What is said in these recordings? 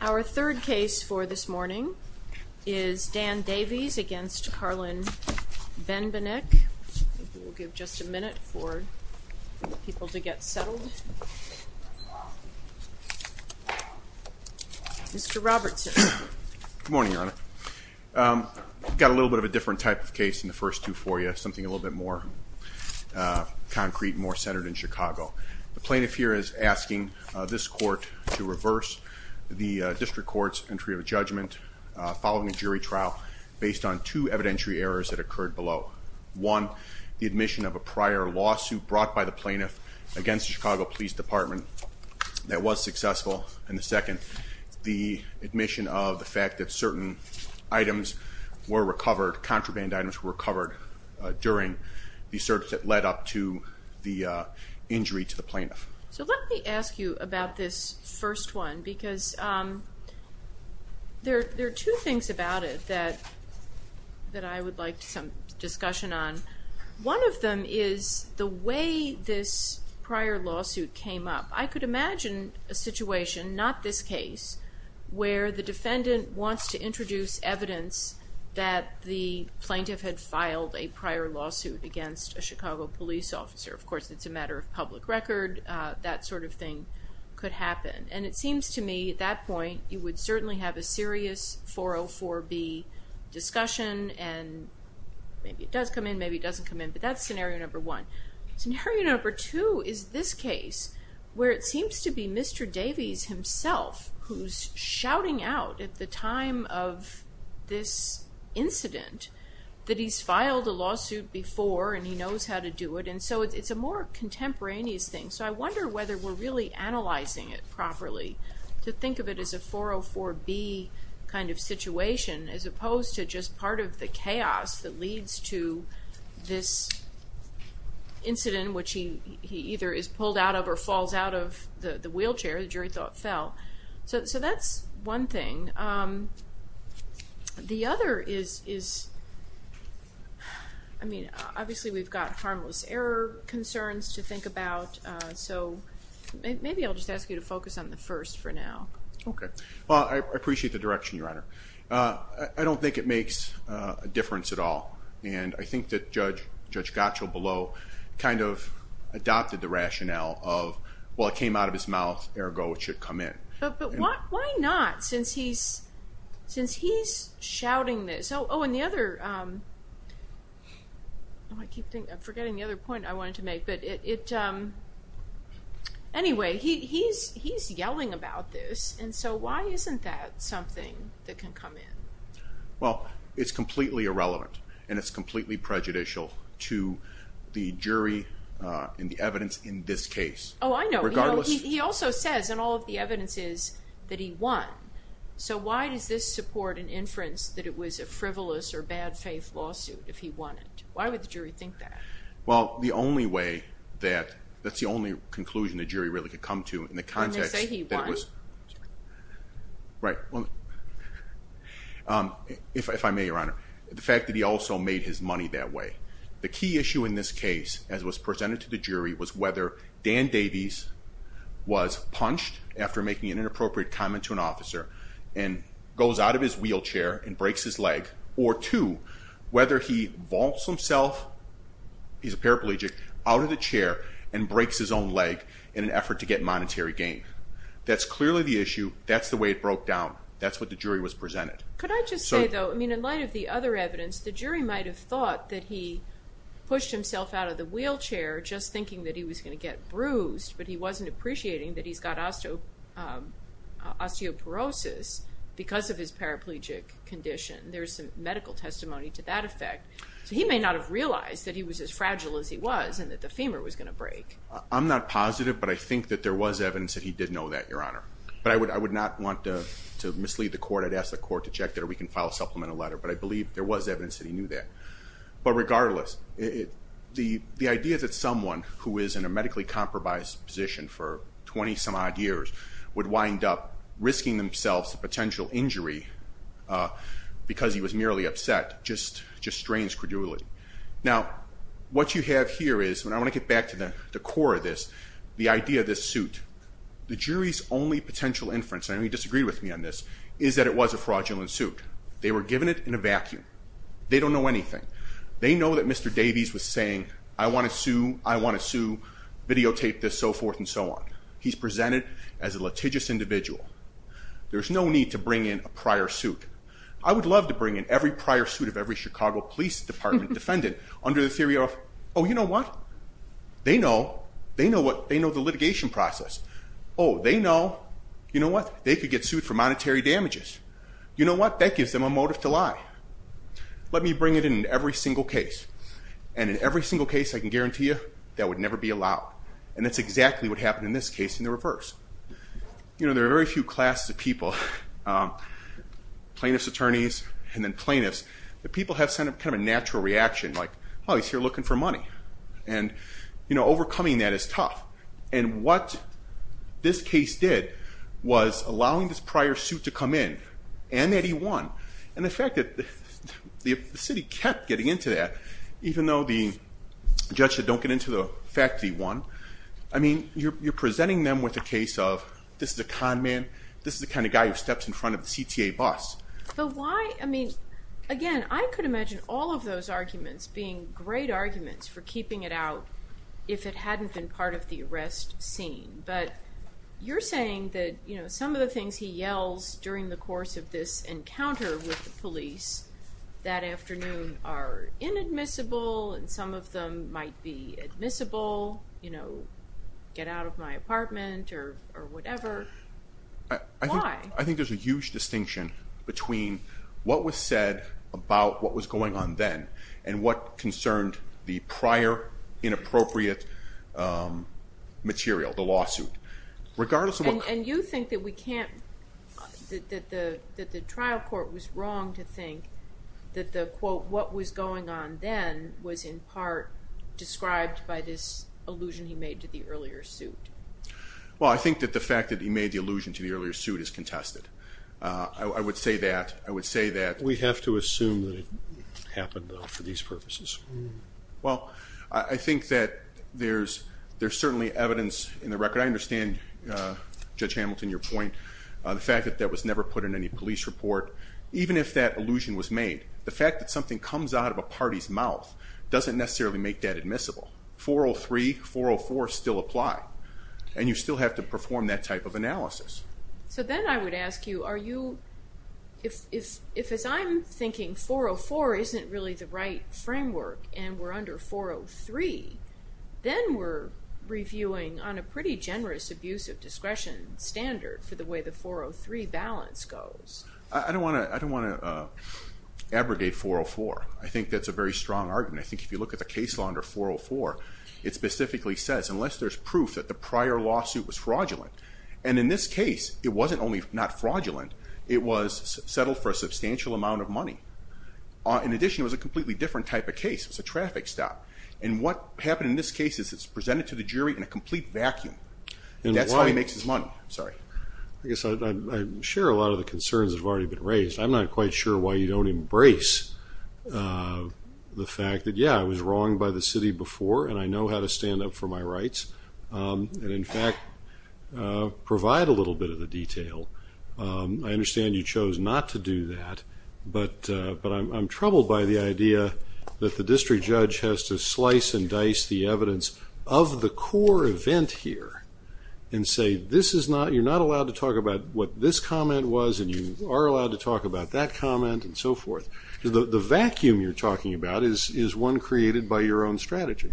Our third case for this morning is Dan Davies v. Karlen Benbenek. We'll give just a minute for people to get settled. Mr. Robertson. Good morning, Your Honor. I've got a little bit of a different type of case than the first two for you, something a little bit more concrete, more centered in Chicago. The plaintiff here is asking this court to reverse the district court's entry of judgment following a jury trial based on two evidentiary errors that occurred below. One, the admission of a prior lawsuit brought by the plaintiff against the Chicago Police Department that was successful. And the second, the admission of the fact that certain items were recovered, contraband items were recovered during the search that led up to the injury to the plaintiff. So let me ask you about this first one because there are two things about it that I would like some discussion on. One of them is the way this prior lawsuit came up. I could imagine a situation, not this case, where the defendant wants to introduce evidence that the plaintiff had filed a prior lawsuit against a Chicago police officer. Of course, it's a matter of public record. That sort of thing could happen. And it seems to me at that point you would certainly have a serious 404B discussion and maybe it does come in, maybe it doesn't come in, but that's scenario number one. Scenario number two is this case where it seems to be Mr. Davies himself who's shouting out at the time of this incident that he's filed a lawsuit before and he knows how to do it. And so it's a more contemporaneous thing. So I wonder whether we're really analyzing it properly to think of it as a 404B kind of situation as opposed to just part of the chaos that leads to this incident which he either is pulled out of or falls out of the wheelchair, the jury thought fell. So that's one thing. The other is, I mean, obviously we've got harmless error concerns to think about. So maybe I'll just ask you to focus on the first for now. Okay. Well, I appreciate the direction, Your Honor. I don't think it makes a difference at all. And I think that Judge Gottschall below kind of adopted the rationale of, well, it came out of his mouth, ergo it should come in. But why not since he's shouting this? Oh, and the other, I keep forgetting the other point I wanted to make. Anyway, he's yelling about this. And so why isn't that something that can come in? Well, it's completely irrelevant, and it's completely prejudicial to the jury and the evidence in this case. Oh, I know. He also says in all of the evidences that he won. So why does this support an inference that it was a frivolous or bad faith lawsuit if he won it? Why would the jury think that? Well, the only way that, that's the only conclusion the jury really could come to in the context that it was. Didn't they say he won? Right. Well, if I may, Your Honor, the fact that he also made his money that way. The key issue in this case, as was presented to the jury, was whether Dan Davies was punched after making an inappropriate comment to an officer and goes out of his wheelchair and breaks his leg, or two, whether he vaults himself, he's a paraplegic, out of the chair and breaks his own leg in an effort to get monetary gain. That's clearly the issue. That's the way it broke down. That's what the jury was presented. Could I just say, though, in light of the other evidence, the jury might have thought that he pushed himself out of the wheelchair just thinking that he was going to get bruised, but he wasn't appreciating that he's got osteoporosis because of his paraplegic condition. There's some medical testimony to that effect. So he may not have realized that he was as fragile as he was and that the femur was going to break. I'm not positive, but I think that there was evidence that he did know that, Your Honor. But I would not want to mislead the court. I'd ask the court to check that, or we can file a supplemental letter. But I believe there was evidence that he knew that. But regardless, the idea that someone who is in a medically-compromised position for 20-some-odd years would wind up risking themselves a potential injury because he was merely upset just strains credulity. Now, what you have here is, and I want to get back to the core of this, the idea of this suit. The jury's only potential inference, and I know you disagree with me on this, is that it was a fraudulent suit. They were given it in a vacuum. They don't know anything. They know that Mr. Davies was saying, I want to sue, I want to sue, videotape this, so forth and so on. He's presented as a litigious individual. There's no need to bring in a prior suit. I would love to bring in every prior suit of every Chicago Police Department defendant under the theory of, oh, you know what? They know. They know the litigation process. Oh, they know. You know what? They could get sued for monetary damages. You know what? That gives them a motive to lie. Let me bring it in in every single case. And in every single case, I can guarantee you, that would never be allowed. And that's exactly what happened in this case in the reverse. You know, there are very few classes of people, plaintiff's attorneys and then plaintiffs, that people have kind of a natural reaction, like, oh, he's here looking for money. And, you know, overcoming that is tough. And what this case did was allowing this prior suit to come in, and that he won. And the fact that the city kept getting into that, even though the judge said, don't get into the fact that he won. I mean, you're presenting them with a case of, this is a con man. This is the kind of guy who steps in front of the CTA bus. But why? I mean, again, I could imagine all of those arguments being great arguments for keeping it out if it hadn't been part of the arrest scene. But you're saying that, you know, some of the things he yells during the course of this encounter with the police that afternoon are inadmissible, and some of them might be admissible. You know, get out of my apartment or whatever. Why? I think there's a huge distinction between what was said about what was going on then and what concerned the prior inappropriate material, the lawsuit. And you think that we can't, that the trial court was wrong to think that the, quote, what was going on then was in part described by this allusion he made to the earlier suit. Well, I think that the fact that he made the allusion to the earlier suit is contested. I would say that. I would say that. We have to assume that it happened, though, for these purposes. Well, I think that there's certainly evidence in the record. I understand, Judge Hamilton, your point, the fact that that was never put in any police report. Even if that allusion was made, the fact that something comes out of a party's mouth doesn't necessarily make that admissible. 403, 404 still apply, and you still have to perform that type of analysis. So then I would ask you, are you, if, as I'm thinking, 404 isn't really the right framework and we're under 403, then we're reviewing on a pretty generous abuse of discretion standard for the way the 403 balance goes. I don't want to abrogate 404. I think that's a very strong argument. I think if you look at the case law under 404, it specifically says unless there's proof that the prior lawsuit was fraudulent, and in this case it wasn't only not fraudulent, it was settled for a substantial amount of money. In addition, it was a completely different type of case. It was a traffic stop. And what happened in this case is it's presented to the jury in a complete vacuum. And that's how he makes his money. I guess I share a lot of the concerns that have already been raised. I'm not quite sure why you don't embrace the fact that, yeah, I was wrong by the city before and I know how to stand up for my rights and, in fact, provide a little bit of the detail. I understand you chose not to do that, but I'm troubled by the idea that the district judge has to slice and dice the evidence of the core event here and say you're not allowed to talk about what this comment was and you are allowed to talk about that comment and so forth. The vacuum you're talking about is one created by your own strategy.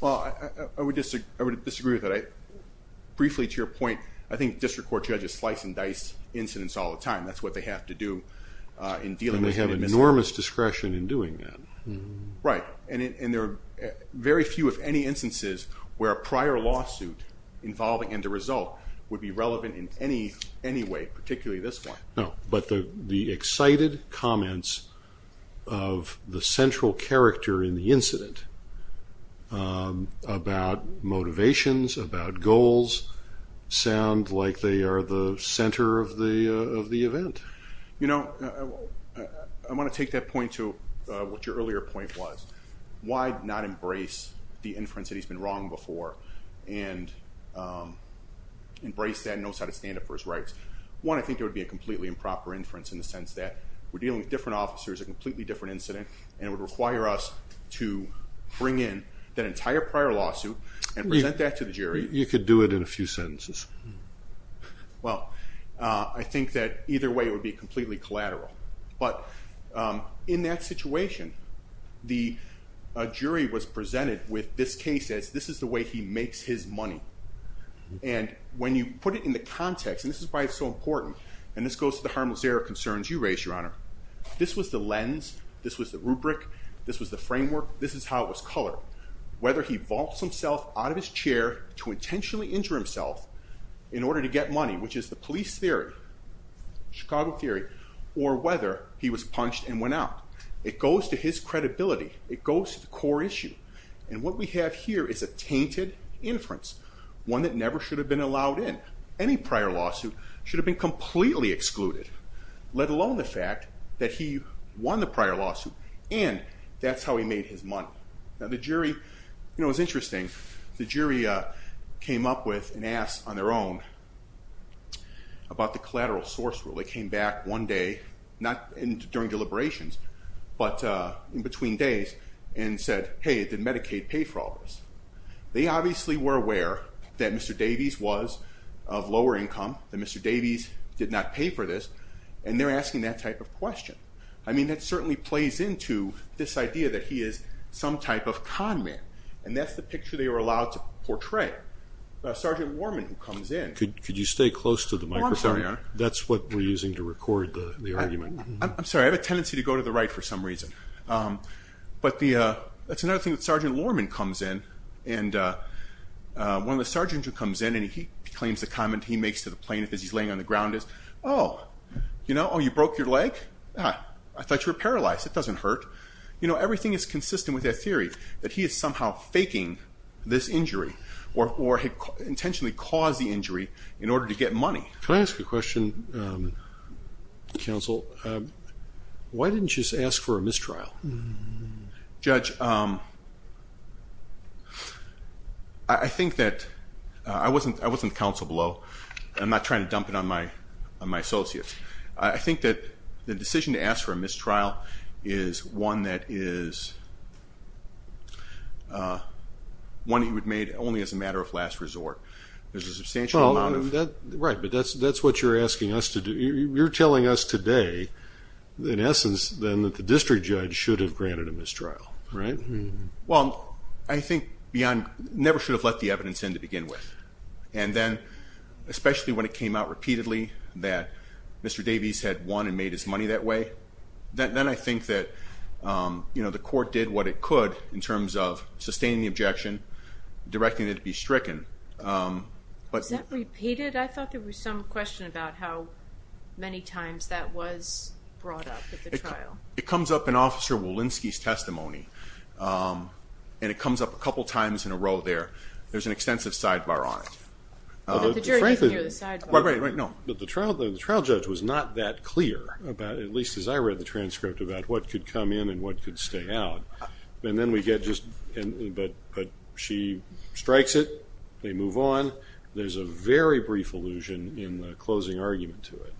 Well, I would disagree with that. Briefly, to your point, I think district court judges slice and dice incidents all the time. That's what they have to do in dealing with an administrator. And they have enormous discretion in doing that. Right. And there are very few, if any, instances where a prior lawsuit involving and the result would be relevant in any way, particularly this one. No, but the excited comments of the central character in the incident about motivations, about goals, I want to take that point to what your earlier point was. Why not embrace the inference that he's been wrong before and embrace that and know how to stand up for his rights? One, I think it would be a completely improper inference in the sense that we're dealing with different officers, a completely different incident, and it would require us to bring in that entire prior lawsuit and present that to the jury. You could do it in a few sentences. Well, I think that either way it would be completely collateral. But in that situation, the jury was presented with this case as this is the way he makes his money. And when you put it in the context, and this is why it's so important, and this goes to the harmless error concerns you raised, Your Honor, this was the lens, this was the rubric, this was the framework, this is how it was colored. Whether he vaults himself out of his chair to intentionally injure himself in order to get money, which is the police theory, Chicago theory, or whether he was punched and went out. It goes to his credibility. It goes to the core issue. And what we have here is a tainted inference, one that never should have been allowed in. Any prior lawsuit should have been completely excluded, let alone the fact that he won the prior lawsuit, and that's how he made his money. Now, the jury, you know, it's interesting. The jury came up with and asked on their own about the collateral source rule. They came back one day, not during deliberations, but in between days, and said, hey, did Medicaid pay for all this? They obviously were aware that Mr. Davies was of lower income, that Mr. Davies did not pay for this, and they're asking that type of question. I mean, that certainly plays into this idea that he is some type of con man, and that's the picture they were allowed to portray. Sergeant Lorman comes in. Could you stay close to the microphone? Oh, I'm sorry, Your Honor. That's what we're using to record the argument. I'm sorry. I have a tendency to go to the right for some reason. But that's another thing that Sergeant Lorman comes in, and one of the sergeants who comes in, and he claims the comment he makes to the plaintiff as he's laying on the ground is, oh, you broke your leg? I thought you were paralyzed. It doesn't hurt. You know, everything is consistent with that theory that he is somehow faking this injury or had intentionally caused the injury in order to get money. Can I ask a question, counsel? Why didn't you just ask for a mistrial? Judge, I think that I wasn't counsel below. I'm not trying to dump it on my associates. I think that the decision to ask for a mistrial is one that is one he would have made only as a matter of last resort. There's a substantial amount of... Right, but that's what you're asking us to do. You're telling us today, in essence, then, that the district judge should have granted a mistrial, right? Well, I think never should have let the evidence in to begin with. And then, especially when it came out repeatedly that Mr. Davies had won and made his money that way, then I think that the court did what it could in terms of sustaining the objection, directing it to be stricken. Was that repeated? I thought there was some question about how many times that was brought up at the trial. It comes up in Officer Walensky's testimony, and it comes up a couple times in a row there. There's an extensive sidebar on it. The jury doesn't hear the sidebar. But the trial judge was not that clear about it, at least as I read the transcript, about what could come in and what could stay out. But she strikes it, they move on. There's a very brief allusion in the closing argument to it.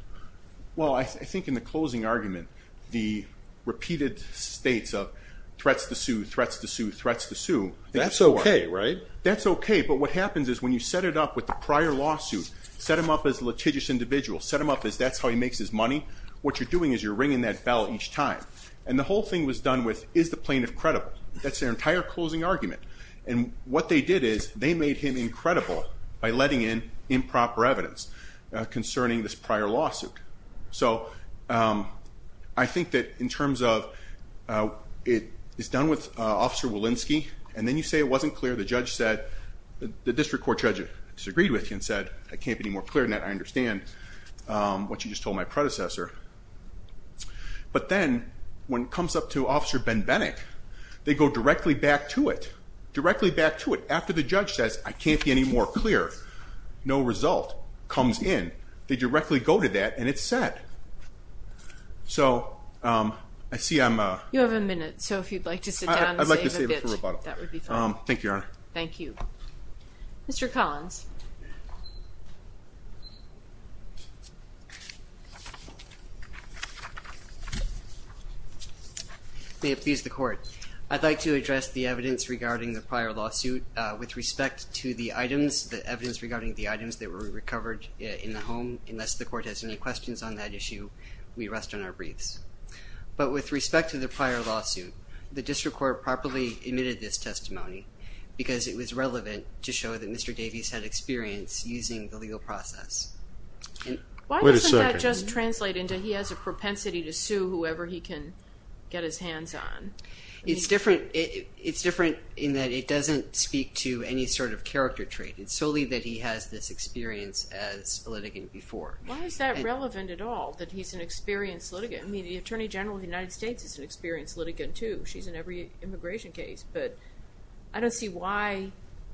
Well, I think in the closing argument, the repeated states of threats to sue, threats to sue, threats to sue... That's okay, right? That's okay, but what happens is when you set it up with the prior lawsuit, set him up as a litigious individual, set him up as that's how he makes his money, what you're doing is you're ringing that bell each time. And the whole thing was done with, is the plaintiff credible? That's their entire closing argument. And what they did is they made him incredible by letting in improper evidence concerning this prior lawsuit. So I think that in terms of... It's done with Officer Walensky, and then you say it wasn't clear. The judge said... The district court judge disagreed with you and said, I can't be any more clear than that. I understand what you just told my predecessor. But then when it comes up to Officer Benbenek, they go directly back to it, directly back to it, after the judge says, I can't be any more clear. No result comes in. They directly go to that, and it's set. So I see I'm... You have a minute, so if you'd like to sit down and save a bit, that would be fine. Thank you, Your Honor. Thank you. Mr. Collins. May it please the court. I'd like to address the evidence regarding the prior lawsuit. With respect to the items, the evidence regarding the items that were recovered in the home, unless the court has any questions on that issue, we rest on our breathes. But with respect to the prior lawsuit, the district court properly admitted this testimony because it was relevant to show that Mr. Davies had experience using the legal process. Why doesn't that just translate into he has a propensity to sue whoever he can get his hands on? It's different in that it doesn't speak to any sort of character trait. It's solely that he has this experience as a litigant before. Why is that relevant at all, that he's an experienced litigant? I mean, the Attorney General of the United States is an experienced litigant, too. She's in every immigration case. But I don't see why.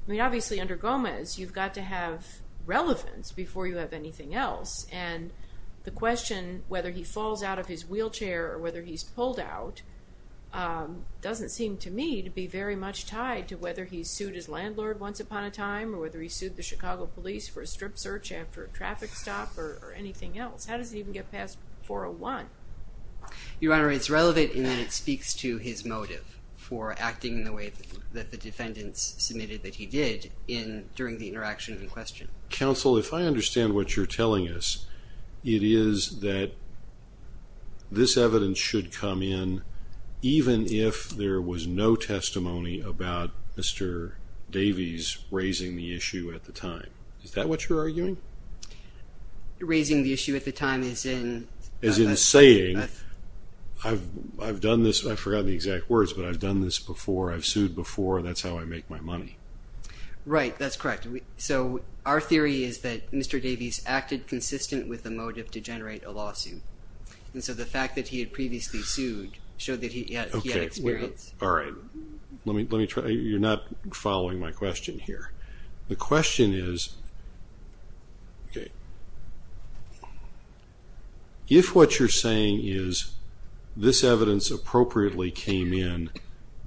I mean, obviously, under Gomez, you've got to have relevance before you have anything else. And the question whether he falls out of his wheelchair or whether he's pulled out doesn't seem to me to be very much tied to whether he sued his landlord once upon a time or whether he sued the Chicago police for a strip search after a traffic stop or anything else. How does it even get past 401? Your Honor, it's relevant in that it speaks to his motive for acting in the way that the defendants submitted that he did during the interaction in question. Counsel, if I understand what you're telling us, it is that this evidence should come in even if there was no testimony about Mr. Davies raising the issue at the time. Is that what you're arguing? Raising the issue at the time as in? As in saying, I've done this. I forgot the exact words, but I've done this before. I've sued before. That's how I make my money. Right. That's correct. So our theory is that Mr. Davies acted consistent with the motive to generate a lawsuit. And so the fact that he had previously sued showed that he had experience. All right. Let me try. You're not following my question here. The question is, if what you're saying is this evidence appropriately came in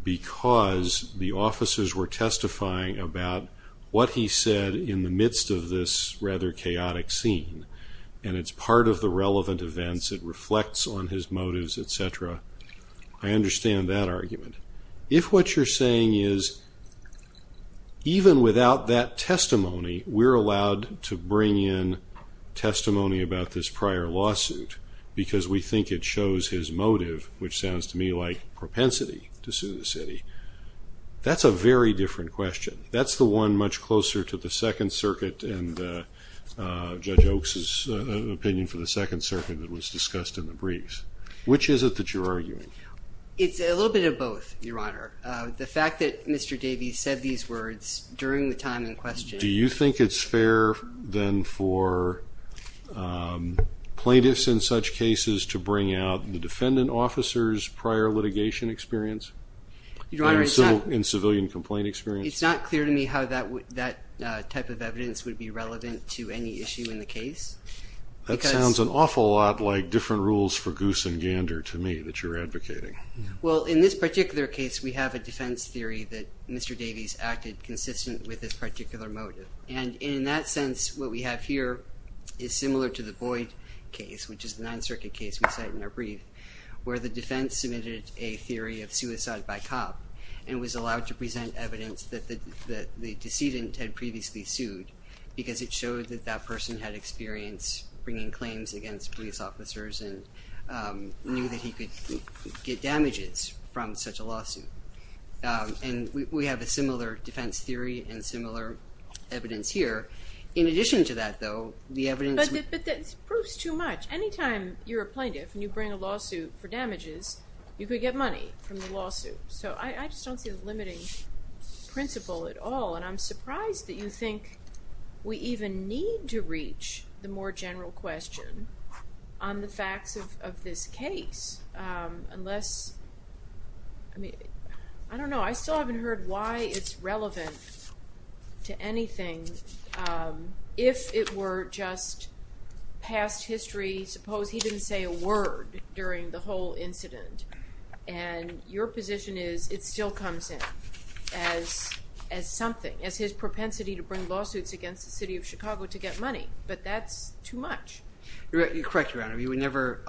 because the officers were testifying about what he said in the midst of this rather chaotic scene, and it's part of the relevant events, it reflects on his motives, et cetera, I understand that argument. If what you're saying is even without that testimony, we're allowed to bring in testimony about this prior lawsuit because we think it shows his motive, which sounds to me like propensity to sue the city, that's a very different question. That's the one much closer to the Second Circuit and Judge Oaks' opinion for the Second Circuit that was discussed in the briefs. Which is it that you're arguing? It's a little bit of both, Your Honor. The fact that Mr. Davies said these words during the time in question. Do you think it's fair then for plaintiffs in such cases to bring out the defendant officer's prior litigation experience and civilian complaint experience? It's not clear to me how that type of evidence would be relevant to any issue in the case. That sounds an awful lot like different rules for goose and gander to me that you're advocating. Well, in this particular case, we have a defense theory that Mr. Davies acted consistent with this particular motive. And in that sense, what we have here is similar to the Boyd case, which is the Ninth Circuit case we cite in our brief, where the defense submitted a theory of suicide by cop and was allowed to present evidence that the decedent had previously sued because it showed that that person had experience bringing claims against police officers and knew that he could get damages from such a lawsuit. And we have a similar defense theory and similar evidence here. In addition to that, though, the evidence would— But that proves too much. Anytime you're a plaintiff and you bring a lawsuit for damages, you could get money from the lawsuit. So I just don't see the limiting principle at all, and I'm surprised that you think we even need to reach the more general question on the facts of this case unless—I mean, I don't know. I still haven't heard why it's relevant to anything if it were just past history. Suppose he didn't say a word during the whole incident, and your position is it still comes in as something, as his propensity to bring lawsuits against the city of Chicago to get money, but that's too much. You're correct, Your Honor. We would never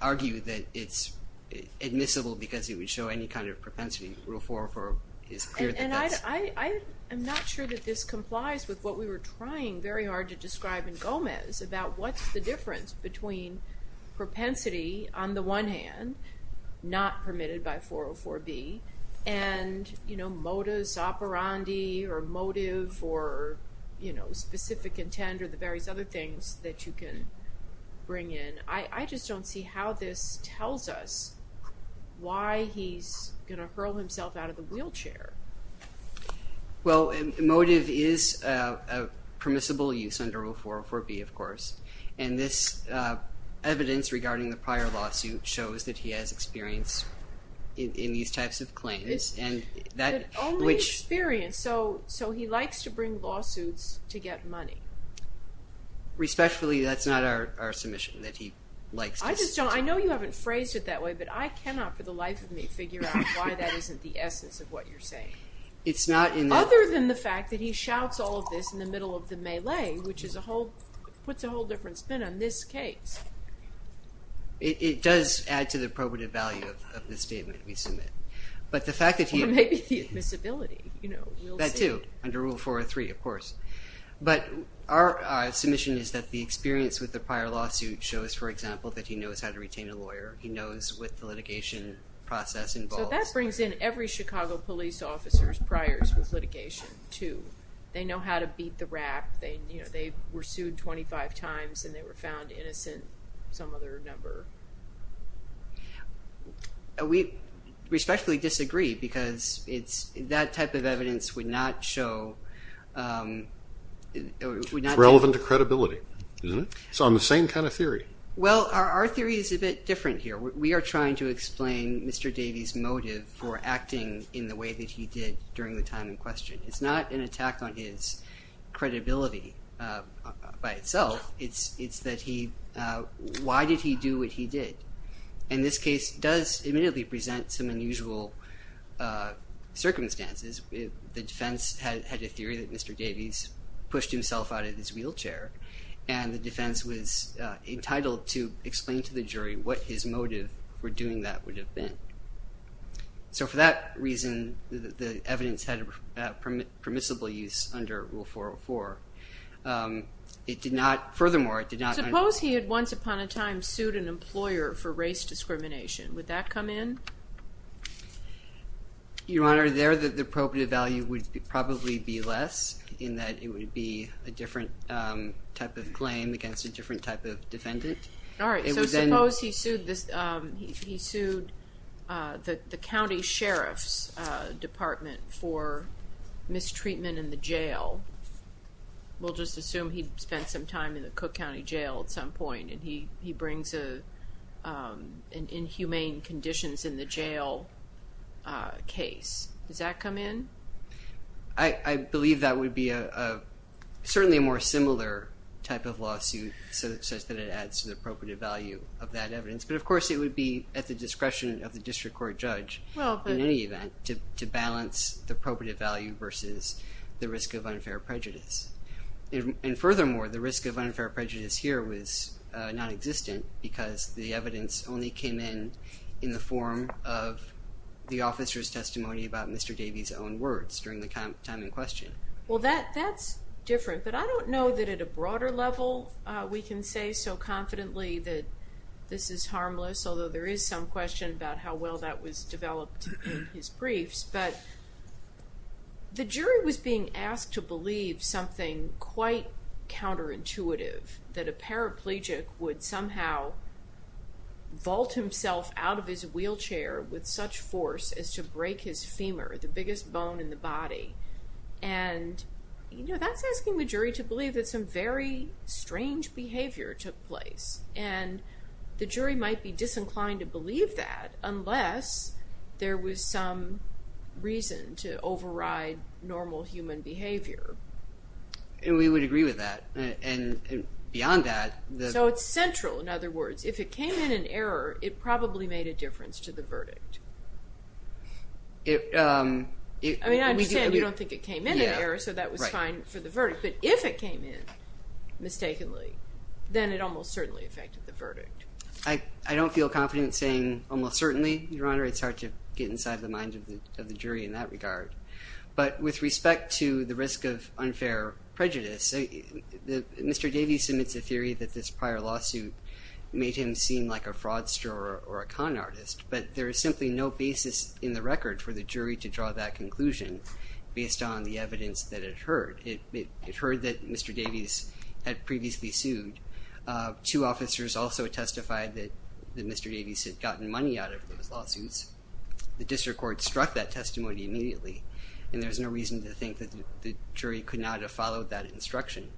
argue that it's admissible because it would show any kind of propensity. Rule 404 is clear that that's— And I'm not sure that this complies with what we were trying very hard to describe in Gomez about what's the difference between propensity on the one hand, not permitted by 404B, and modus operandi or motive or specific intent or the various other things that you can bring in. I just don't see how this tells us why he's going to hurl himself out of the wheelchair. Well, motive is a permissible use under Rule 404B, of course, and this evidence regarding the prior lawsuit shows that he has experience in these types of claims. But only experience, so he likes to bring lawsuits to get money. Respectfully, that's not our submission, that he likes to— I just don't—I know you haven't phrased it that way, but I cannot for the life of me figure out why that isn't the essence of what you're saying. Other than the fact that he shouts all of this in the middle of the melee, which puts a whole different spin on this case. It does add to the probative value of the statement we submit. Or maybe the admissibility. That too, under Rule 403, of course. But our submission is that the experience with the prior lawsuit shows, for example, that he knows how to retain a lawyer. He knows what the litigation process involves. So that brings in every Chicago police officer's priors with litigation, too. They know how to beat the rap. They were sued 25 times, and they were found innocent, some other number. We respectfully disagree, because that type of evidence would not show— It's relevant to credibility, isn't it? It's on the same kind of theory. Well, our theory is a bit different here. We are trying to explain Mr. Davies' motive for acting in the way that he did during the time in question. It's not an attack on his credibility by itself. It's that he—why did he do what he did? And this case does immediately present some unusual circumstances. The defense had a theory that Mr. Davies pushed himself out of his wheelchair, and the defense was entitled to explain to the jury what his motive for doing that would have been. So for that reason, the evidence had permissible use under Rule 404. It did not—furthermore, it did not— Suppose he had once upon a time sued an employer for race discrimination. Would that come in? Your Honor, there the probative value would probably be less, in that it would be a different type of claim against a different type of defendant. All right, so suppose he sued the county sheriff's department for mistreatment in the jail. We'll just assume he spent some time in the Cook County Jail at some point, and he brings in inhumane conditions in the jail case. Does that come in? I believe that would be certainly a more similar type of lawsuit, such that it adds to the probative value of that evidence. But, of course, it would be at the discretion of the district court judge in any event to balance the probative value versus the risk of unfair prejudice. And furthermore, the risk of unfair prejudice here was nonexistent because the evidence only came in in the form of the officer's testimony about Mr. Davey's own words during the time in question. Well, that's different, but I don't know that at a broader level we can say so confidently that this is harmless, although there is some question about how well that was developed in his briefs. But the jury was being asked to believe something quite counterintuitive, that a paraplegic would somehow vault himself out of his wheelchair with such force as to break his femur, the biggest bone in the body. And, you know, that's asking the jury to believe that some very strange behavior took place. And the jury might be disinclined to believe that unless there was some reason to override normal human behavior. And we would agree with that. And beyond that... So it's central, in other words. If it came in in error, it probably made a difference to the verdict. I mean, I understand you don't think it came in in error, so that was fine for the verdict. But if it came in mistakenly, then it almost certainly affected the verdict. I don't feel confident saying almost certainly, Your Honor. It's hard to get inside the mind of the jury in that regard. But with respect to the risk of unfair prejudice, Mr. Davies submits a theory that this prior lawsuit made him seem like a fraudster or a con artist. But there is simply no basis in the record for the jury to draw that conclusion based on the evidence that it heard. It heard that Mr. Davies had previously sued. Two officers also testified that Mr. Davies had gotten money out of those lawsuits. The district court struck that testimony immediately. And there's no reason to think that the jury could not have followed that instruction.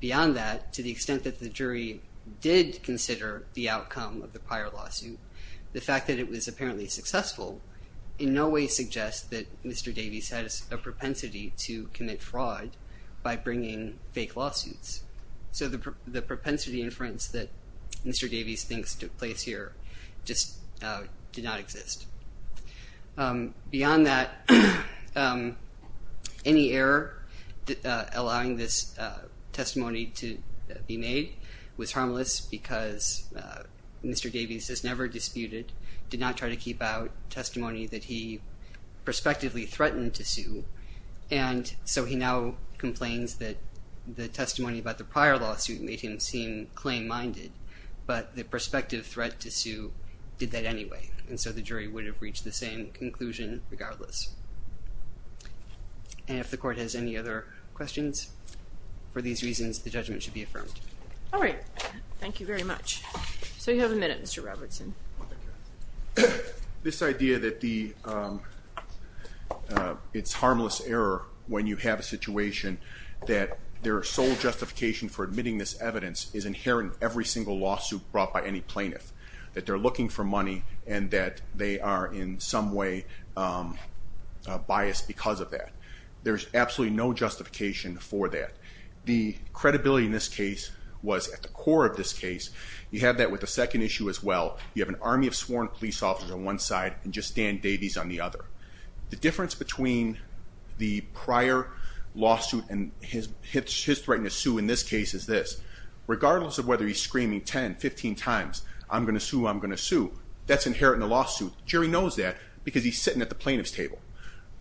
Beyond that, to the extent that the jury did consider the outcome of the prior lawsuit, the fact that it was apparently successful in no way suggests that Mr. Davies has a propensity to commit fraud by bringing fake lawsuits. So the propensity inference that Mr. Davies thinks took place here just did not exist. Beyond that, any error allowing this testimony to be made was harmless because Mr. Davies has never disputed, did not try to keep out, testimony that he prospectively threatened to sue. And so he now complains that the testimony about the prior lawsuit made him seem claim-minded. But the prospective threat to sue did that anyway. And so the jury would have reached the same conclusion regardless. And if the court has any other questions, for these reasons, the judgment should be affirmed. All right. Thank you very much. So you have a minute, Mr. Robertson. This idea that it's harmless error when you have a situation that their sole justification for admitting this evidence is inherent in every single lawsuit brought by any plaintiff, that they're looking for money and that they are in some way biased because of that. There's absolutely no justification for that. The credibility in this case was at the core of this case. You have that with the second issue as well. You have an army of sworn police officers on one side and just Dan Davies on the other. The difference between the prior lawsuit and his threat to sue in this case is this. Regardless of whether he's screaming 10, 15 times, I'm going to sue, I'm going to sue, that's inherent in the lawsuit. The jury knows that because he's sitting at the plaintiff's table.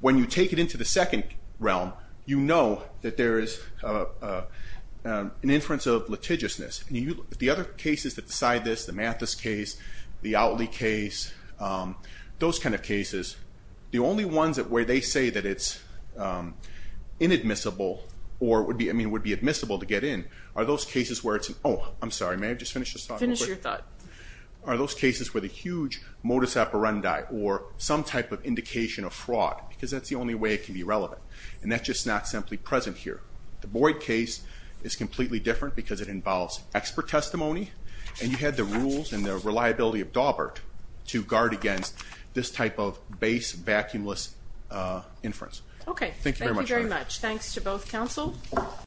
When you take it into the second realm, you know that there is an inference of litigiousness. The other cases that decide this, the Mathis case, the Outley case, those kind of cases, the only ones where they say that it's inadmissible or would be admissible to get in, are those cases where it's an, oh, I'm sorry, may I just finish this thought real quick? Finish your thought. Are those cases with a huge modus operandi or some type of indication of fraud because that's the only way it can be relevant and that's just not simply present here. The Boyd case is completely different because it involves expert testimony and you had the rules and the reliability of Dawbert to guard against this type of base vacuumless inference. Okay. Thank you very much. Thank you very much. Thanks to both counsel.